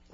No.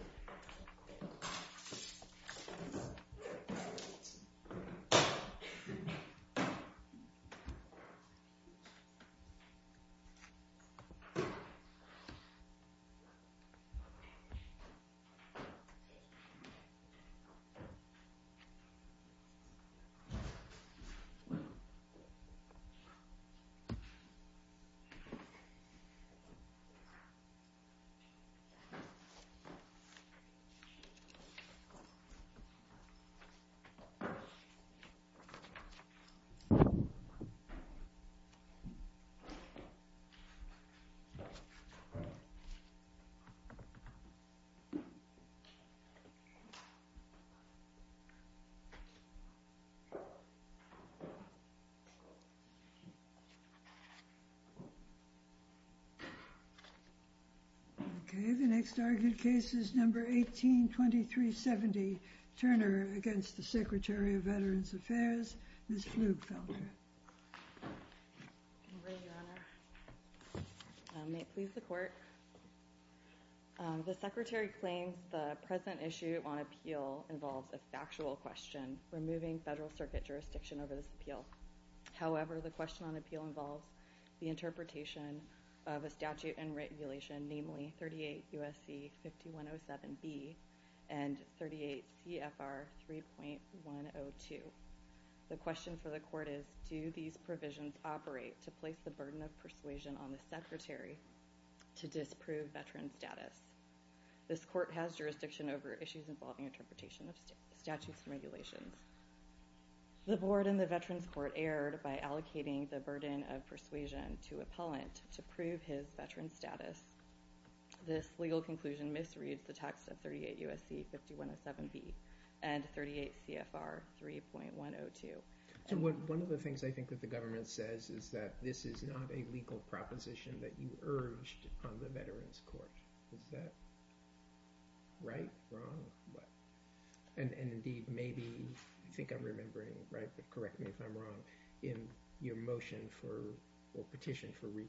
182370, Turner, against the Secretary of Veterans Affairs, Ms. Flugfelder. May it please the Court. The Secretary claims the present issue on appeal involves a factual question, removing Federal Circuit jurisdiction over this appeal. However, the question on and 38 CFR 3.102. The question for the Court is, do these provisions operate to place the burden of persuasion on the Secretary to disprove veteran status? This Court has jurisdiction over issues involving interpretation of statutes and regulations. The Board and the Veterans Court erred by allocating the burden of persuasion to appellant to prove his veteran status. This legal conclusion misreads the text of 38 U.S.C. 5107B and 38 CFR 3.102. One of the things I think that the government says is that this is not a legal proposition that you urged on the Veterans Court. Is that right, wrong? And indeed, maybe, I think I'm under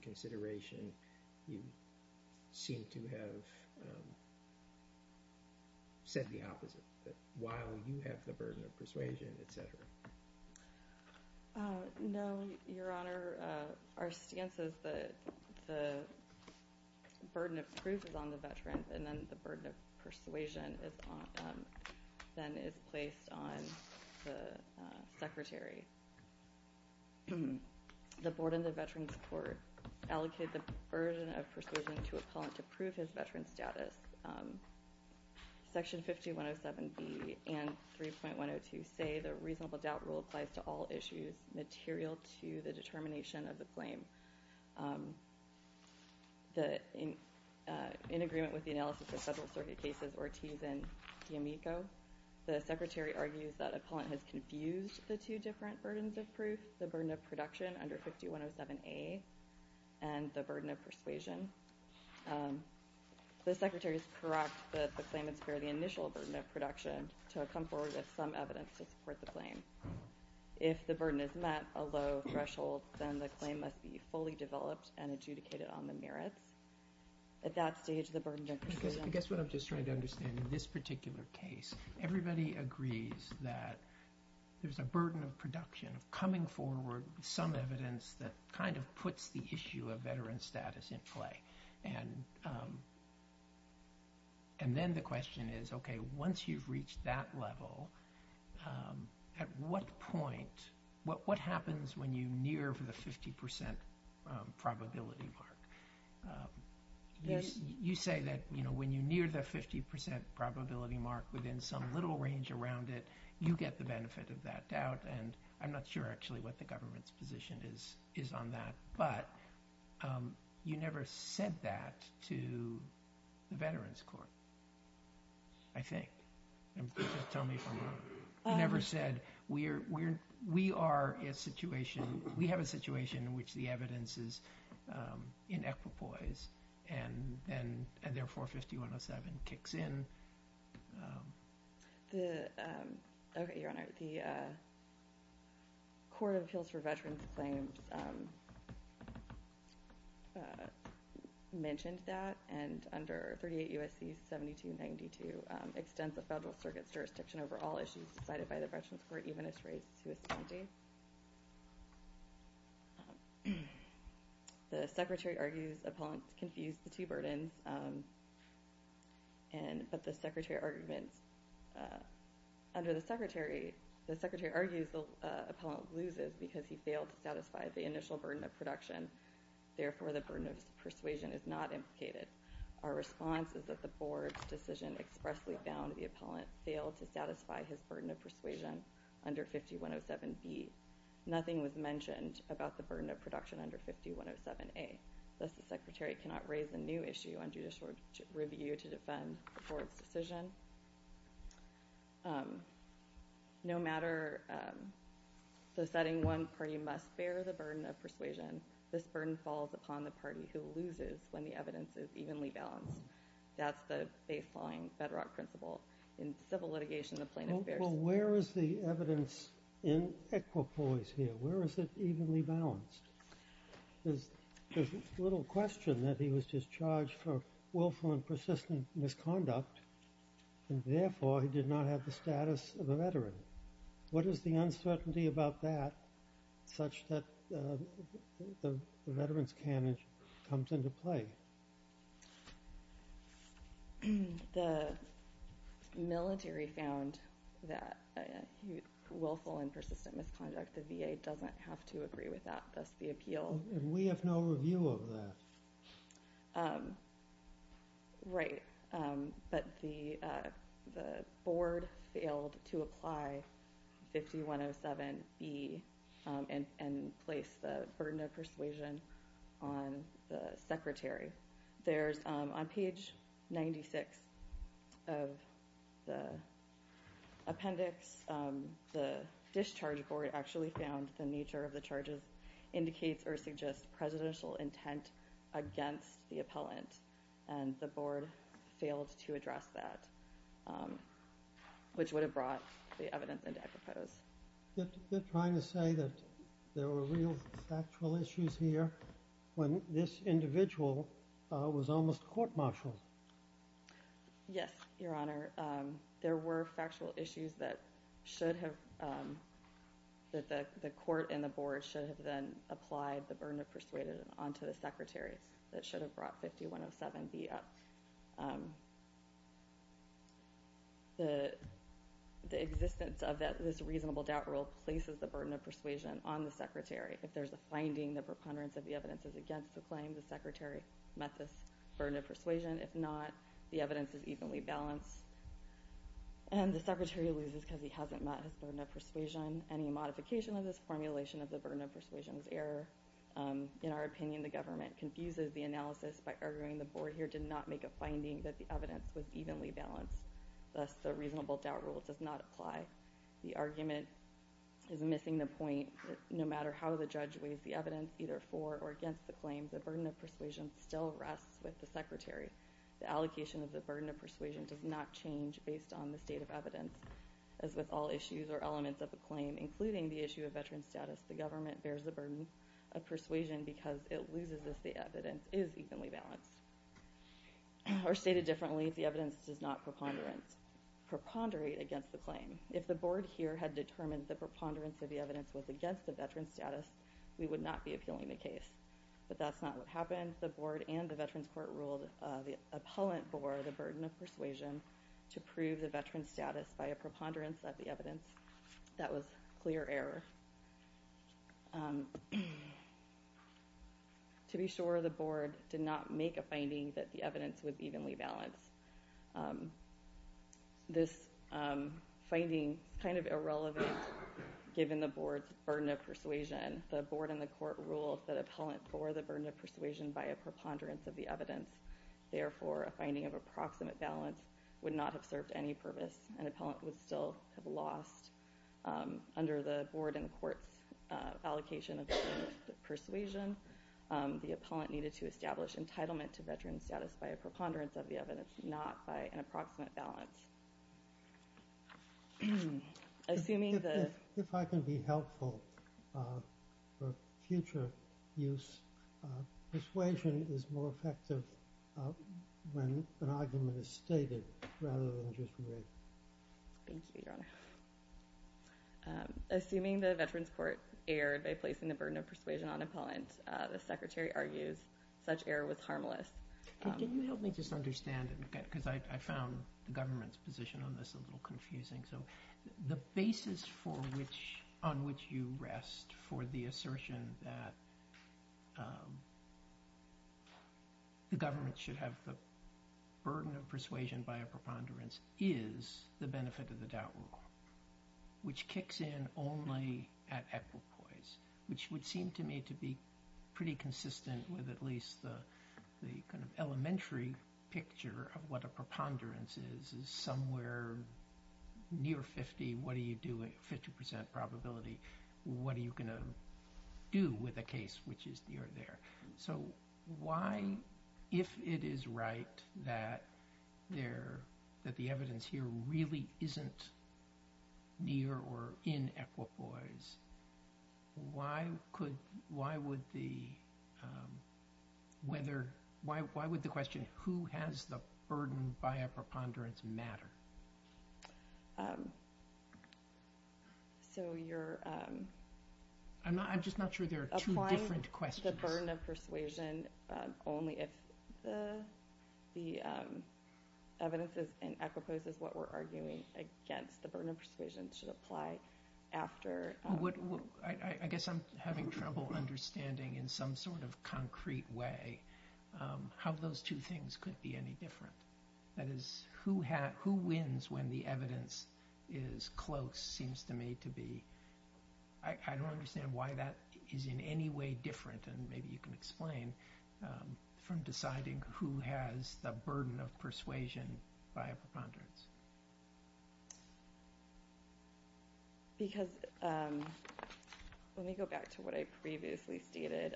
consideration, you seem to have said the opposite, that while you have the burden of persuasion, et cetera. No, Your Honor. Our stance is that the burden of proof is on the veterans and then the burden of persuasion is on the appellant. The Board and the Veterans Court allocated the burden of persuasion to appellant to prove his veteran status. Section 5107B and 3.102 say the reasonable doubt rule applies to all issues material to the determination of the claim. In agreement with the analysis of federal circuit cases Ortiz and D'Amico, the Secretary argues that appellant has confused the two different burdens of proof, the burden of production under 5107A and the burden of persuasion. The Secretary's correct that the claimants bear the initial burden of production to come forward with some evidence to support the claim. If the burden is met, a low threshold, then the claim must be fully developed and adjudicated on the merits. At that stage, the burden of persuasion... I guess what I'm just trying to understand in this particular case, everybody agrees that there's a burden of production, of coming forward with some evidence that kind of puts the issue of veteran status in play. And then the question is, okay, once you've reached that level, at what point, what happens when you near the 50% probability mark? You say that when you near the 50% probability mark within some little range around it, you get the benefit of that doubt, and I'm not sure actually what the government's position is on that, but you never said that to the Veterans Court, I think. Just tell me from... We have a situation in which the evidence is in equipoise, and therefore 450107 kicks in. Okay, Your Honor, the Court of Appeals for Veterans Claims mentioned that, and under 38 U.S.C. 7292 extends the Federal Circuit's jurisdiction over all issues decided by the Veterans Court, even as raised to its county. The Secretary argues the appellant confused the two burdens, but the Secretary argues the appellant loses because he failed to satisfy the initial burden of production, therefore the burden of persuasion is not implicated. Our response is that the Court's decision expressly found the appellant failed to satisfy his burden of persuasion under 5107B. Nothing was mentioned about the burden of production under 5107A, thus the Secretary cannot raise a new issue on judicial review to defend the Court's decision. No matter the setting, one party must bear the burden of persuasion. This burden falls upon the baseline Federal principle. In civil litigation, the plaintiff bears... Well, where is the evidence in equipoise here? Where is it evenly balanced? There's little question that he was just charged for willful and persistent misconduct, and therefore he did not have the status of a veteran. What is the uncertainty about that such that the military found that willful and persistent misconduct, the VA doesn't have to agree with that, thus the appeal... And we have no review of that. Right, but the Board failed to apply 5107B and place the burden of persuasion on the Secretary. On page 96 of the appendix, the discharge board actually found the nature of the charges indicates or suggests presidential intent against the appellant, and the Board failed to address that, which would have brought the evidence into equipoise. They're trying to say that there were real factual issues here when this individual was almost court-martialed. Yes, Your Honor. There were factual issues that the Court and the Board should have then applied the burden of persuasion onto the Secretary that should have brought 5107B up. The existence of this reasonable doubt rule places the burden of persuasion on the Secretary. If there's a finding, the preponderance of the evidence is against the claim, the Secretary met this burden of persuasion. If not, the evidence is evenly balanced, and the Secretary loses because he hasn't met his burden of persuasion. Any modification of this formulation of the burden of persuasion is error. In our opinion, the government confuses the analysis by arguing the Board here did not make a finding that the evidence was evenly balanced, thus the reasonable doubt rule does not apply. The argument is missing the point that no matter how the judge weighs the evidence, either for or against the claim, the burden of persuasion still rests with the Secretary. The allocation of the burden of persuasion does not change based on the state of evidence. As with all issues or elements of the claim, including the issue of veteran status, the government bears the burden of persuasion because it loses if the evidence is evenly balanced. Or stated differently, if the evidence does not preponderate against the claim, if the Board here had determined the preponderance of the evidence was against the veteran status, we would not be appealing the case. But that's not what happened. The Board and the Veterans Court ruled the appellant Board the burden of persuasion to prove the veteran status by a preponderance of the evidence. That was clear error. To be sure, the Board did not make a finding that the evidence was evenly balanced. This finding is kind of irrelevant given the Board's burden of persuasion. The Board and the Court ruled that the appellant bore the burden of persuasion by a preponderance of the evidence. Therefore, a finding of approximate balance would not have served any purpose. An appellant would still have lost. Under the Board and the Court's allocation of the burden of persuasion, the appellant needed to establish entitlement to veteran status by a preponderance of the evidence. If I can be helpful for future use, persuasion is more effective when an argument is stated rather than just read. Thank you, Your Honor. Assuming the Veterans Court erred by placing the burden of persuasion on an appellant, the Secretary argues such error was harmless. Can you help me just understand? I found the government's position on this a little confusing. The basis on which you rest for the assertion that the government should have the burden of persuasion by a preponderance is the benefit of the doubt rule, which kicks in only at the elementary picture of what a preponderance is. Somewhere near 50, what are you doing? 50% probability. What are you going to do with a case which is near there? If it is right that the evidence here really isn't near or in equipoise, why would the question who has the burden by a preponderance matter? I'm just not sure there are two different questions. Applying the burden of persuasion only if the evidence is in equipoise is what we're arguing against. The burden of persuasion should apply after... I guess I'm having trouble understanding in some sort of concrete way how those two things could be any different. That is, who wins when the evidence is close seems to me to be... I don't understand why that is in any way different, and maybe you can explain, from deciding who has the burden of persuasion by a preponderance. Let me go back to what I previously stated.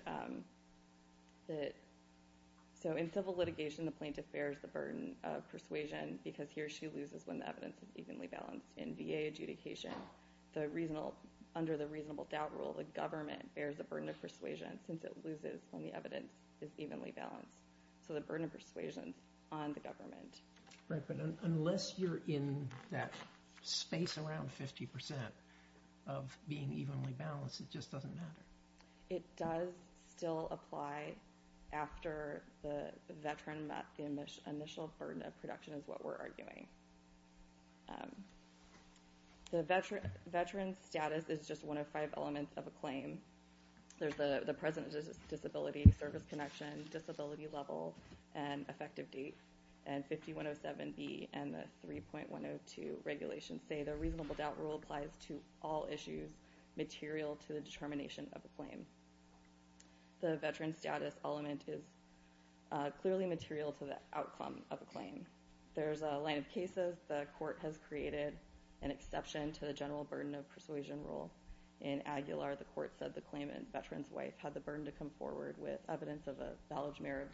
In civil litigation, the plaintiff bears the burden of persuasion because he or she loses when the evidence is evenly balanced. In VA adjudication, under the reasonable doubt rule, the government bears the burden of persuasion since it loses when the evidence is evenly balanced. The burden of persuasion is on the government. Right, but unless you're in that space around 50% of being evenly balanced, it just doesn't matter. It does still apply after the veteran met the initial burden of production is what we're arguing. The veteran's status is just one of five elements of a claim. There's the present disability, service connection, disability level, and effective date. And 5107B and the 3.102 regulations say the reasonable doubt rule applies to all issues material to the determination of a claim. The veteran status element is clearly material to the outcome of a claim. There's a line of cases the court has created an exception to the general burden of persuasion rule. In Aguilar, the court said the claimant's veteran's wife had the burden to come forward with evidence of a valid merit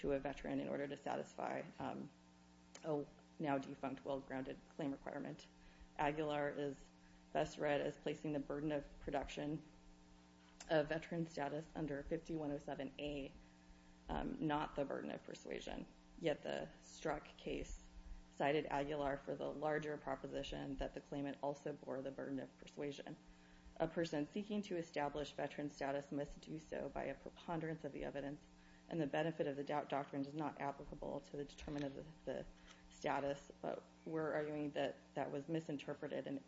to a veteran in order to satisfy a now defunct well-grounded claim requirement. Aguilar is best read as placing the burden of production of veteran status under 5107A, not the burden of persuasion. Yet the Strzok case cited Aguilar for the larger proposition that the claimant also bore the burden of persuasion. A person seeking to establish veteran status must do so by a preponderance of the evidence, and the benefit of the doubt doctrine is not applicable to the determination of the status, but we're arguing that that was misinterpreted and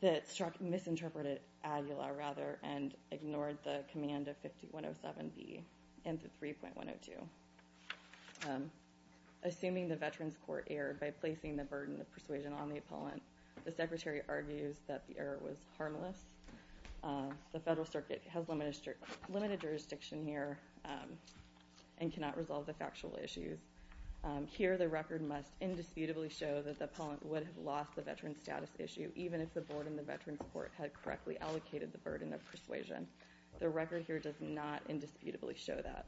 that Strzok misinterpreted Aguilar, rather, and ignored the command of 5107B and the 3.102. Assuming the veteran's court erred by placing the burden of persuasion on the appellant, the Secretary argues that the error was harmless. The Federal Circuit has limited jurisdiction here and cannot resolve the factual issues. Here, the record must indisputably show that the appellant would have lost the veteran status issue, even if the board and the veteran's court had correctly allocated the burden of persuasion. The record here does not indisputably show that.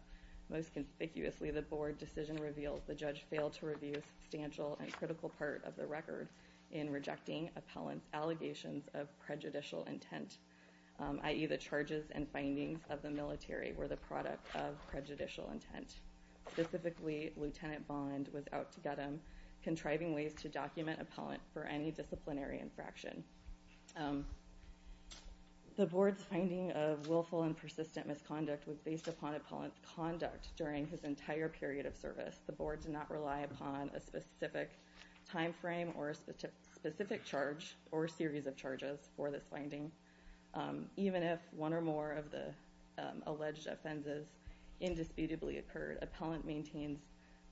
Most conspicuously, the board decision reveals the judge failed to review a substantial and critical part of the record in rejecting appellant's allegations of prejudicial intent, i.e., the charges and findings of the military were the product of prejudicial intent. Specifically, Lieutenant Bond was out to get him, contriving ways to document appellant for any disciplinary infraction. The board's finding of willful and persistent misconduct was based upon appellant's conduct during his entire period of service. The board did not rely upon a specific time frame or a specific charge or series of charges for this finding. Even if one or more of the alleged offenses indisputably occurred, appellant maintains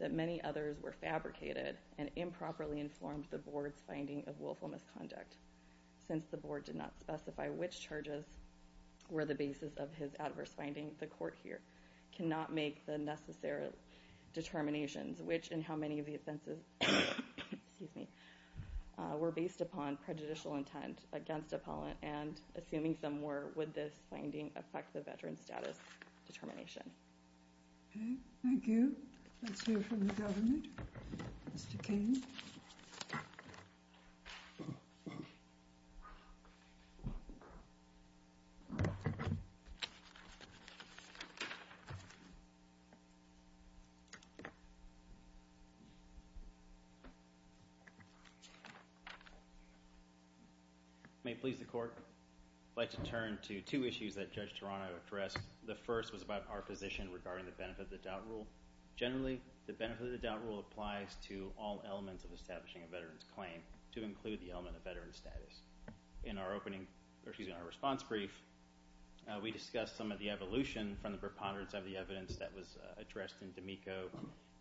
that many others were fabricated and improperly informed the board's finding of willful misconduct. Since the board did not specify which charges were the basis of his adverse finding, the court here cannot make the necessary determinations, which in how many of the offenses were based upon prejudicial intent against appellant and, assuming some were, would this finding affect the veteran's status determination. Thank you. Let's hear from the government. Mr. Kane. May it please the court. I'd like to turn to two issues that Judge Tarano addressed. The first was about our position regarding the benefit of the doubt rule. Generally, the benefit of the doubt rule applies to all elements of establishing a veteran's claim to include the element of veteran's status. In our response brief, we discussed some of the evolution from the preponderance of the evidence that was addressed in D'Amico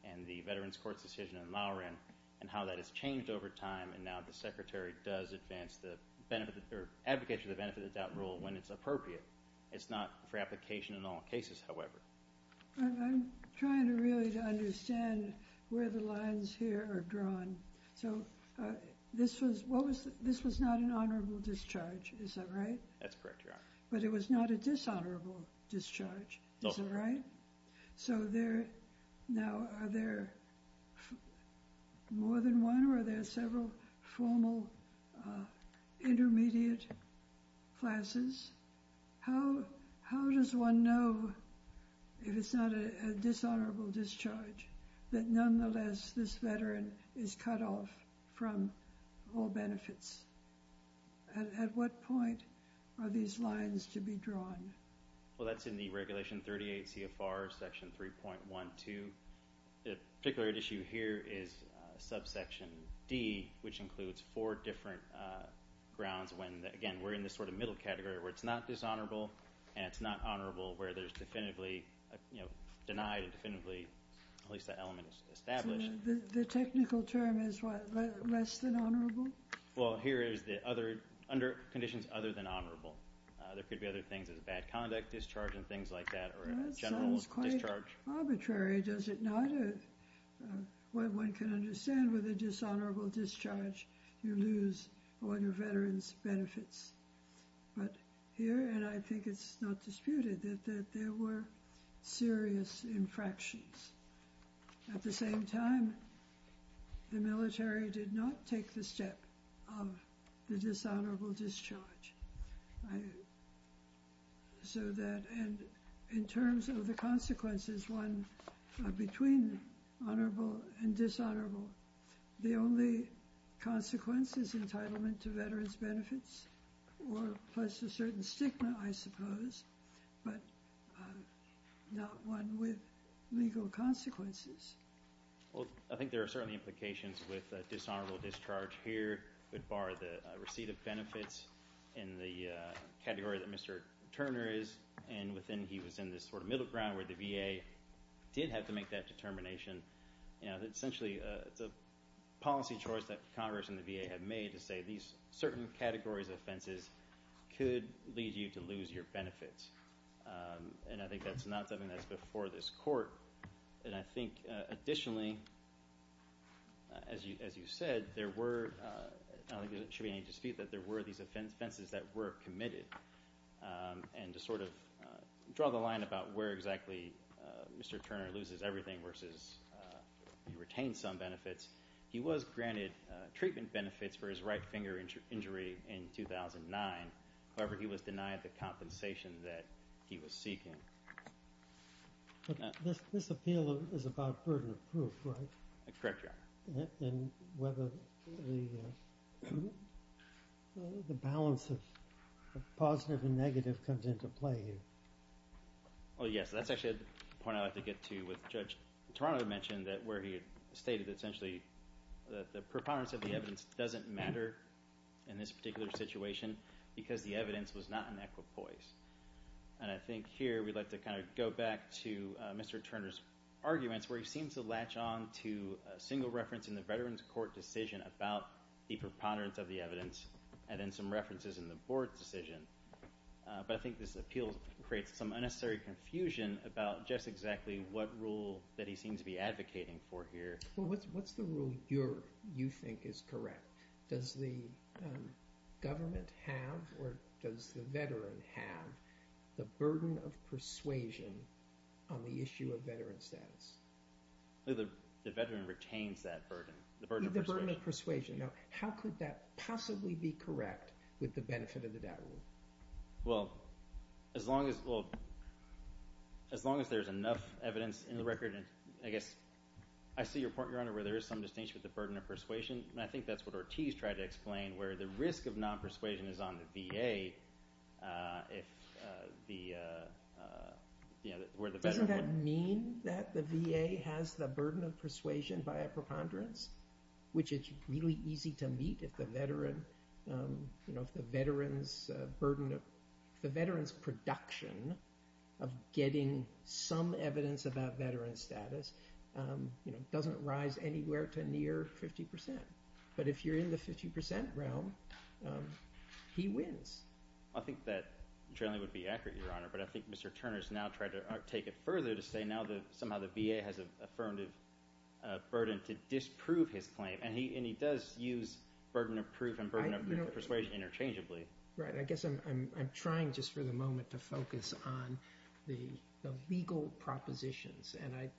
and the Veterans Court's decision in Lower End and how that has changed over time and now the secretary does advocate for the benefit of the doubt rule when it's appropriate. It's not for application in all cases, however. I'm trying to really understand where the lines here are drawn. So this was not an honorable discharge, is that right? That's correct, Your Honor. But it was not a dishonorable discharge, is that right? No. So now are there more than one or are there several formal intermediate classes? How does one know if it's not a dishonorable discharge that nonetheless this veteran is cut off from all benefits? At what point are these lines to be drawn? Well, that's in the Regulation 38 CFR Section 3.12. The particular issue here is subsection D, which includes four different grounds when, again, we're in this sort of middle category where it's not dishonorable and it's not honorable where there's definitively denied and definitively at least that element is established. The technical term is what, less than honorable? Well, here is the other conditions other than honorable. There could be other things as a bad conduct discharge and things like that or a general discharge. That sounds quite arbitrary, does it not? One can understand with a dishonorable discharge you lose all your veterans' benefits. But here, and I think it's not disputed, that there were serious infractions. At the same time, the military did not take the step of the dishonorable discharge. So that in terms of the consequences, one, between honorable and dishonorable, the only consequence is entitlement to veterans' benefits or plus a certain stigma, I suppose, but not one with legal consequences. Well, I think there are certainly implications with dishonorable discharge here, but bar the receipt of benefits in the category that Mr. Turner is in, he was in this sort of middle ground where the VA did have to make that determination. Essentially, it's a policy choice that Congress and the VA had made to say these certain categories of offenses could lead you to lose your benefits. And I think that's not something that's before this Court. And I think additionally, as you said, there were, I don't think there should be any dispute, that there were these offenses that were committed. And to sort of draw the line about where exactly Mr. Turner loses everything versus he retains some benefits, he was granted treatment benefits for his right finger injury in 2009. However, he was denied the compensation that he was seeking. But this appeal is about burden of proof, right? Correct, Your Honor. And whether the balance of positive and negative comes into play here. Well, yes. That's actually a point I'd like to get to with Judge Toronto mentioned where he stated essentially that the preponderance of the evidence doesn't matter in this particular situation because the evidence was not an equipoise. And I think here we'd like to kind of go back to Mr. Turner's arguments where he seems to latch on to a single reference in the Veterans Court decision about the preponderance of the evidence and then some references in the Board's decision. But I think this appeal creates some unnecessary confusion about just exactly what rule that he seems to be advocating for here. Well, what's the rule you think is correct? Does the government have or does the veteran have the burden of persuasion on the issue of veteran status? The veteran retains that burden, the burden of persuasion. The burden of persuasion. Now, how could that possibly be correct with the benefit of the doubt rule? Well, as long as there's enough evidence in the record, I guess I see your point, Your Honor, where there is some distinction with the burden of persuasion, and I think that's what Ortiz tried to explain where the risk of non-persuasion is on the VA. Doesn't that mean that the VA has the burden of persuasion by a preponderance, which is really easy to meet if the veteran's production of getting some evidence about veteran status doesn't rise anywhere to near 50 percent? But if you're in the 50 percent realm, he wins. I think that generally would be accurate, Your Honor, but I think Mr. Turner has now tried to take it further to say now that somehow the VA has an affirmative burden to disprove his claim, and he does use burden of proof and burden of persuasion interchangeably. Right. I guess I'm trying just for the moment to focus on the legal propositions, and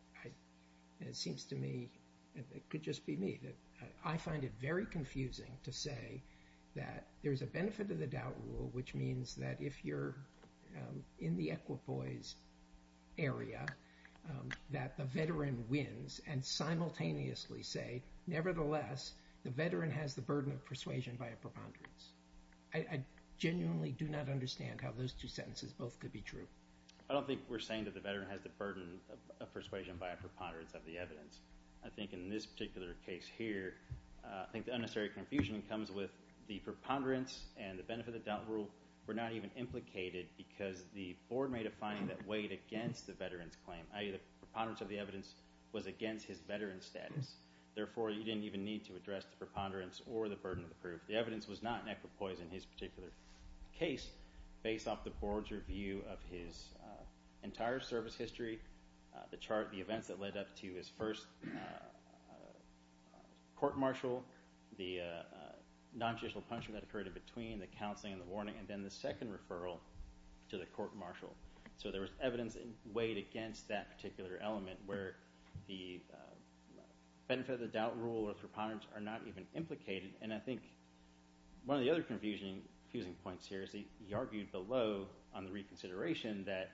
it seems to me it could just be me. I find it very confusing to say that there's a benefit of the doubt rule, which means that if you're in the equipoise area, that the veteran wins, and simultaneously say, nevertheless, the veteran has the burden of persuasion by a preponderance. I genuinely do not understand how those two sentences both could be true. I don't think we're saying that the veteran has the burden of persuasion by a preponderance of the evidence. I think in this particular case here, I think the unnecessary confusion comes with the preponderance and the benefit of the doubt rule were not even implicated because the board made a finding that weighed against the veteran's claim, i.e., the preponderance of the evidence was against his veteran's status. Therefore, you didn't even need to address the preponderance or the burden of the proof. The evidence was not in equipoise in his particular case. Based off the board's review of his entire service history, the chart of the events that led up to his first court-martial, the nontraditional punishment that occurred in between, the counseling and the warning, and then the second referral to the court-martial. So there was evidence weighed against that particular element where the benefit of the doubt rule or the preponderance are not even implicated. And I think one of the other confusing points here is that he argued below on the reconsideration that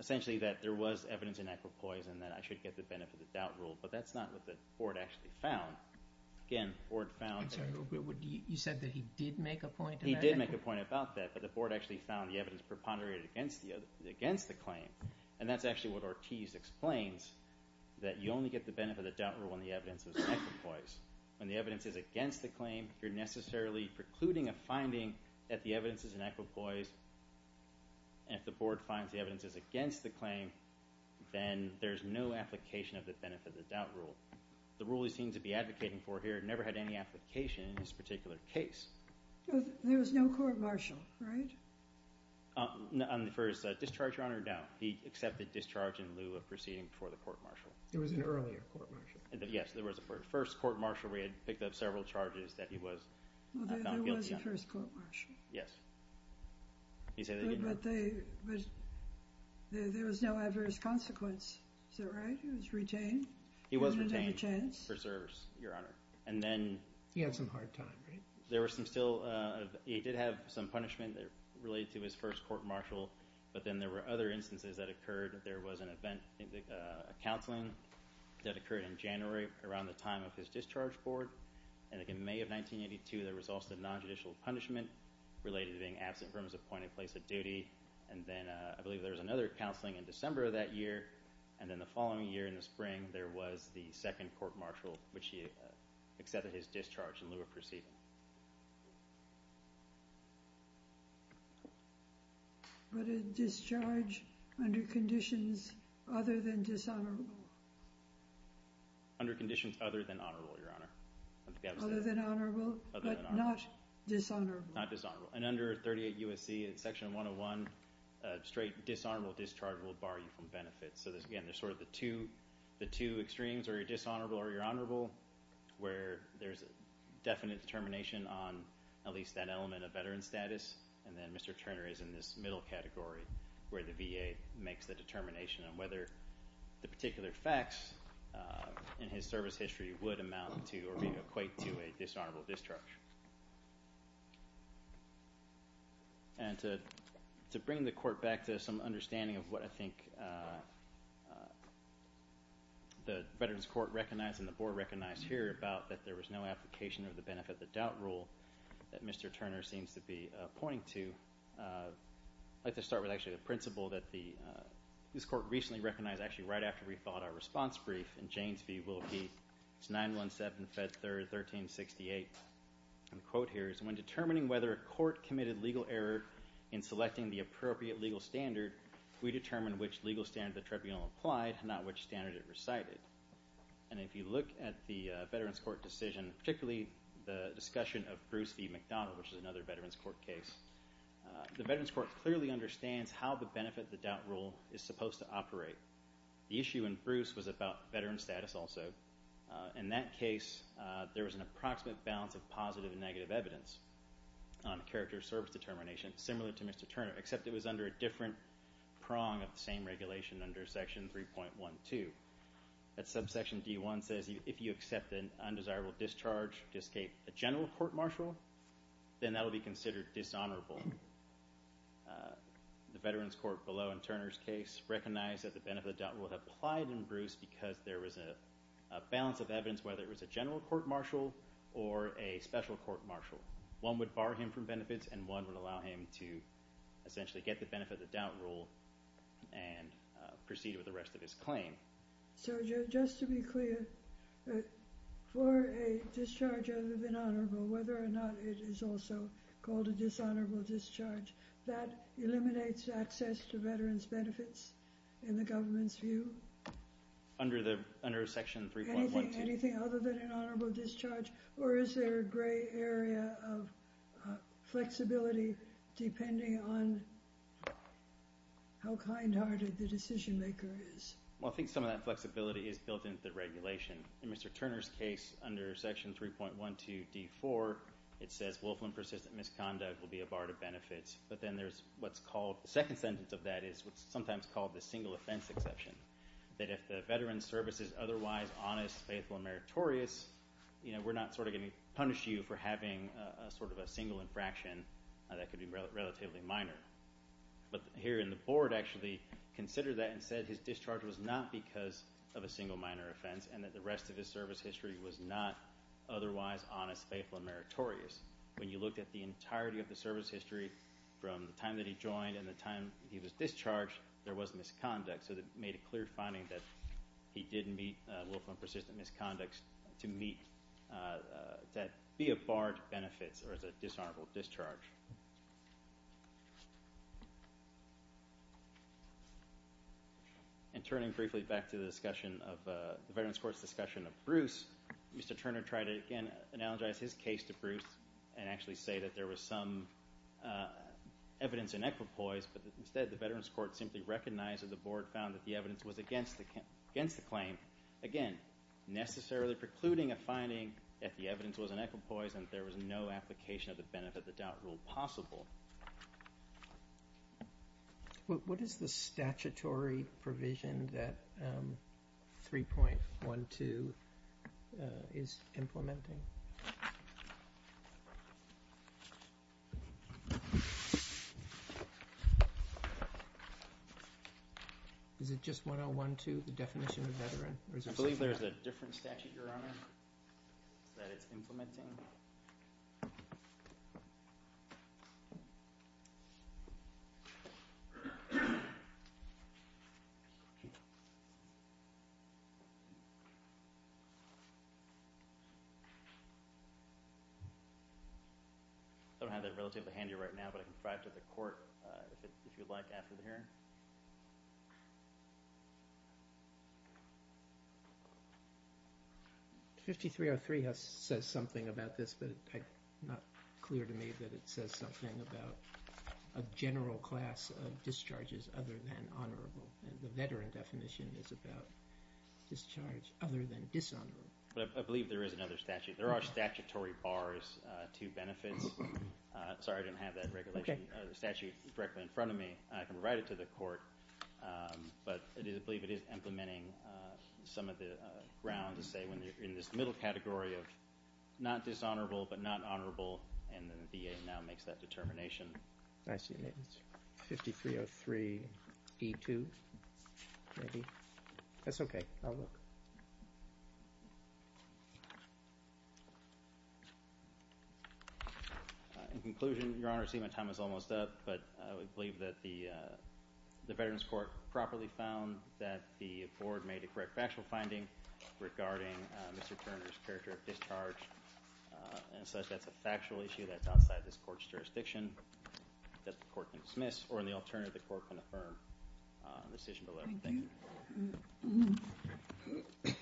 essentially that there was evidence in equipoise and that I should get the benefit of the doubt rule, but that's not what the board actually found. Again, the board found... You said that he did make a point about it? He did make a point about that, but the board actually found the evidence preponderated against the claim. And that's actually what Ortiz explains, that you only get the benefit of the doubt rule when the evidence is in equipoise. When the evidence is against the claim, you're necessarily precluding a finding that the evidence is in equipoise. And if the board finds the evidence is against the claim, then there's no application of the benefit of the doubt rule. The rule he seems to be advocating for here never had any application in this particular case. There was no court-martial, right? On the first discharge, Your Honor, no. He accepted discharge in lieu of proceeding before the court-martial. There was an earlier court-martial. Yes, there was a first court-martial where he had picked up several charges that he was found guilty on. There was a first court-martial. Yes. But there was no adverse consequence, is that right? He was retained? He was retained for service, Your Honor. He had some hard time, right? He did have some punishment related to his first court-martial, but then there were other instances that occurred. There was a counseling that occurred in January around the time of his discharge board. And in May of 1982, there was also non-judicial punishment related to being absent from his appointed place of duty. And then I believe there was another counseling in December of that year. And then the following year in the spring, there was the second court-martial, which he accepted his discharge in lieu of proceeding. But a discharge under conditions other than dishonorable? Under conditions other than honorable, Your Honor. Other than honorable, but not dishonorable. Not dishonorable. And under 38 U.S.C. in Section 101, a straight dishonorable discharge will bar you from benefits. So again, there's sort of the two extremes, or you're dishonorable or you're honorable, where there's a definite determination on at least that element of veteran status. And then Mr. Turner is in this middle category where the VA makes the determination on whether the particular facts in his service history would amount to or equate to a dishonorable discharge. And to bring the Court back to some understanding of what I think the Veterans Court recognized and the Board recognized here about that there was no application of the benefit-of-the-doubt rule that Mr. Turner seems to be pointing to, I'd like to start with actually the principle that this Court recently recognized, actually right after we filed our response brief, and Janes v. Wilkie. It's 917 Fed 3rd 1368. The quote here is, When determining whether a court committed legal error in selecting the appropriate legal standard, we determined which legal standard the tribunal applied, not which standard it recited. And if you look at the Veterans Court decision, particularly the discussion of Bruce v. McDonald, which is another Veterans Court case, the Veterans Court clearly understands how the benefit-of-the-doubt rule is supposed to operate. The issue in Bruce was about veteran status also. In that case, there was an approximate balance of positive and negative evidence on the character of service determination, similar to Mr. Turner, except it was under a different prong of the same regulation under Section 3.12. That subsection D.1 says, If you accept an undesirable discharge to escape a general court-martial, then that will be considered dishonorable. The Veterans Court below in Turner's case recognized that the benefit-of-the-doubt rule applied in Bruce because there was a balance of evidence, whether it was a general court-martial or a special court-martial. One would bar him from benefits, and one would allow him to essentially get the benefit-of-the-doubt rule and proceed with the rest of his claim. So just to be clear, for a discharge of an honorable, whether or not it is also called a dishonorable discharge, that eliminates access to veterans' benefits in the government's view? Under Section 3.12. Anything other than an honorable discharge, or is there a gray area of flexibility depending on how kind-hearted the decision-maker is? Well, I think some of that flexibility is built into the regulation. In Mr. Turner's case, under Section 3.12 D.4, it says, Wolfland persistent misconduct will be a bar to benefits. But then there's what's called, the second sentence of that is what's sometimes called the single-offense exception, that if the veteran's service is otherwise honest, faithful, and meritorious, we're not going to punish you for having a single infraction that could be relatively minor. But here in the board actually considered that and said his discharge was not because of a single minor offense and that the rest of his service history was not otherwise honest, faithful, and meritorious. When you looked at the entirety of the service history, from the time that he joined and the time he was discharged, there was misconduct. So it made a clear finding that he didn't meet Wolfland persistent misconduct to be a bar to benefits or as a dishonorable discharge. And turning briefly back to the discussion of, the Veterans Court's discussion of Bruce, Mr. Turner tried to again analogize his case to Bruce and actually say that there was some evidence in equipoise, but instead the Veterans Court simply recognized that the board found that the evidence was against the claim. Again, necessarily precluding a finding that the evidence was in equipoise and there was no application of the benefit of the doubt rule. It's possible. What is the statutory provision that 3.12 is implementing? Is it just 101.2, the definition of veteran? I believe there's a different statute, Your Honor, that it's implementing. I don't have that relatively handy right now, but I can provide it to the court if you'd like after the hearing. 5303 says something about this, but it's not clear to me that it says something about a general class of discharges other than honorable. The veteran definition is about discharge other than dishonorable. I believe there is another statute. There are statutory bars to benefits. Sorry, I didn't have that regulation statute directly in front of me. I can provide it to the court, but I believe it is implementing some of the grounds to say when you're in this middle category of not dishonorable but not honorable and the VA now makes that determination. I see. 5303E2, maybe. That's okay. I'll look. In conclusion, Your Honor, I see my time is almost up, but I would believe that the Veterans Court properly found that the board made a correct factual finding regarding Mr. Turner's character of discharge and says that's a factual issue that's outside this court's jurisdiction that the court can dismiss or in the alternative the court can affirm in the decision below. Thank you.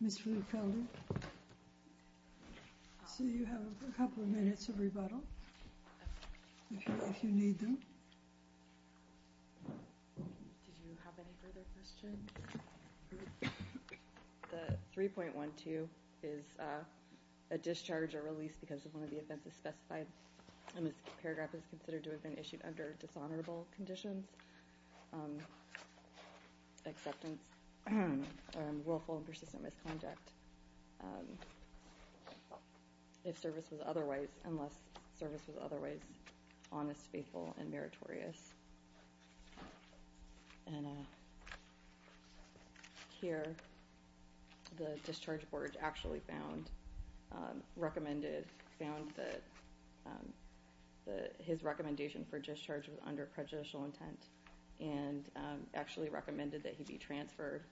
Ms. Feliciano, I see you have a couple of minutes of rebuttal if you need them. Did you have any further questions? The 3.12 is a discharge or release because of one of the offenses specified and this paragraph is considered to have been issued under dishonorable conditions, acceptance, willful and persistent misconduct unless service was otherwise honest, faithful, and meritorious. Here the discharge board actually found that his recommendation for discharge was under prejudicial intent and actually recommended that he be transferred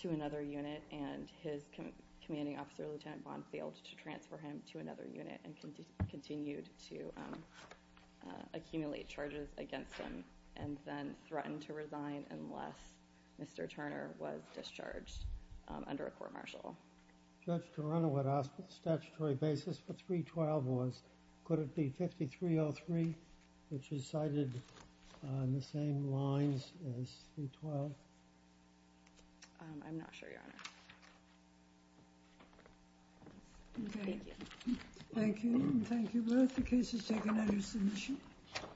to another unit and his commanding officer, Lieutenant Bond, failed to transfer him to another unit and continued to accumulate charges against him and then threatened to resign unless Mr. Turner was discharged under a court-martial. Judge Toronto asked what the statutory basis for 3.12 was. Could it be 5303, which is cited on the same lines as 3.12? I'm not sure, Your Honor. Thank you. Thank you. Thank you both. The case is taken under submission. Thank you.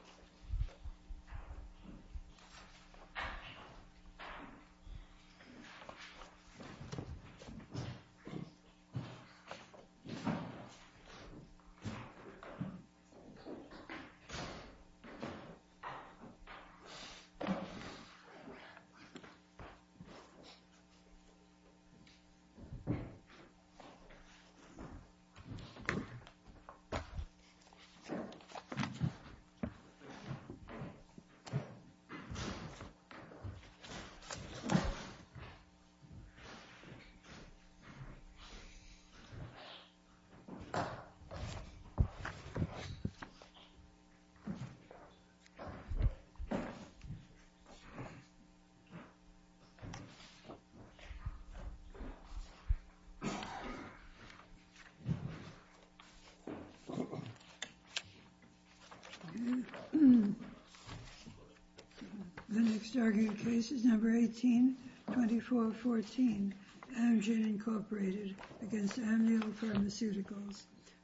The next argument case is number 182414, Amgen, Incorporated, against Amnio Pharmaceuticals,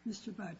Mr. Botkin.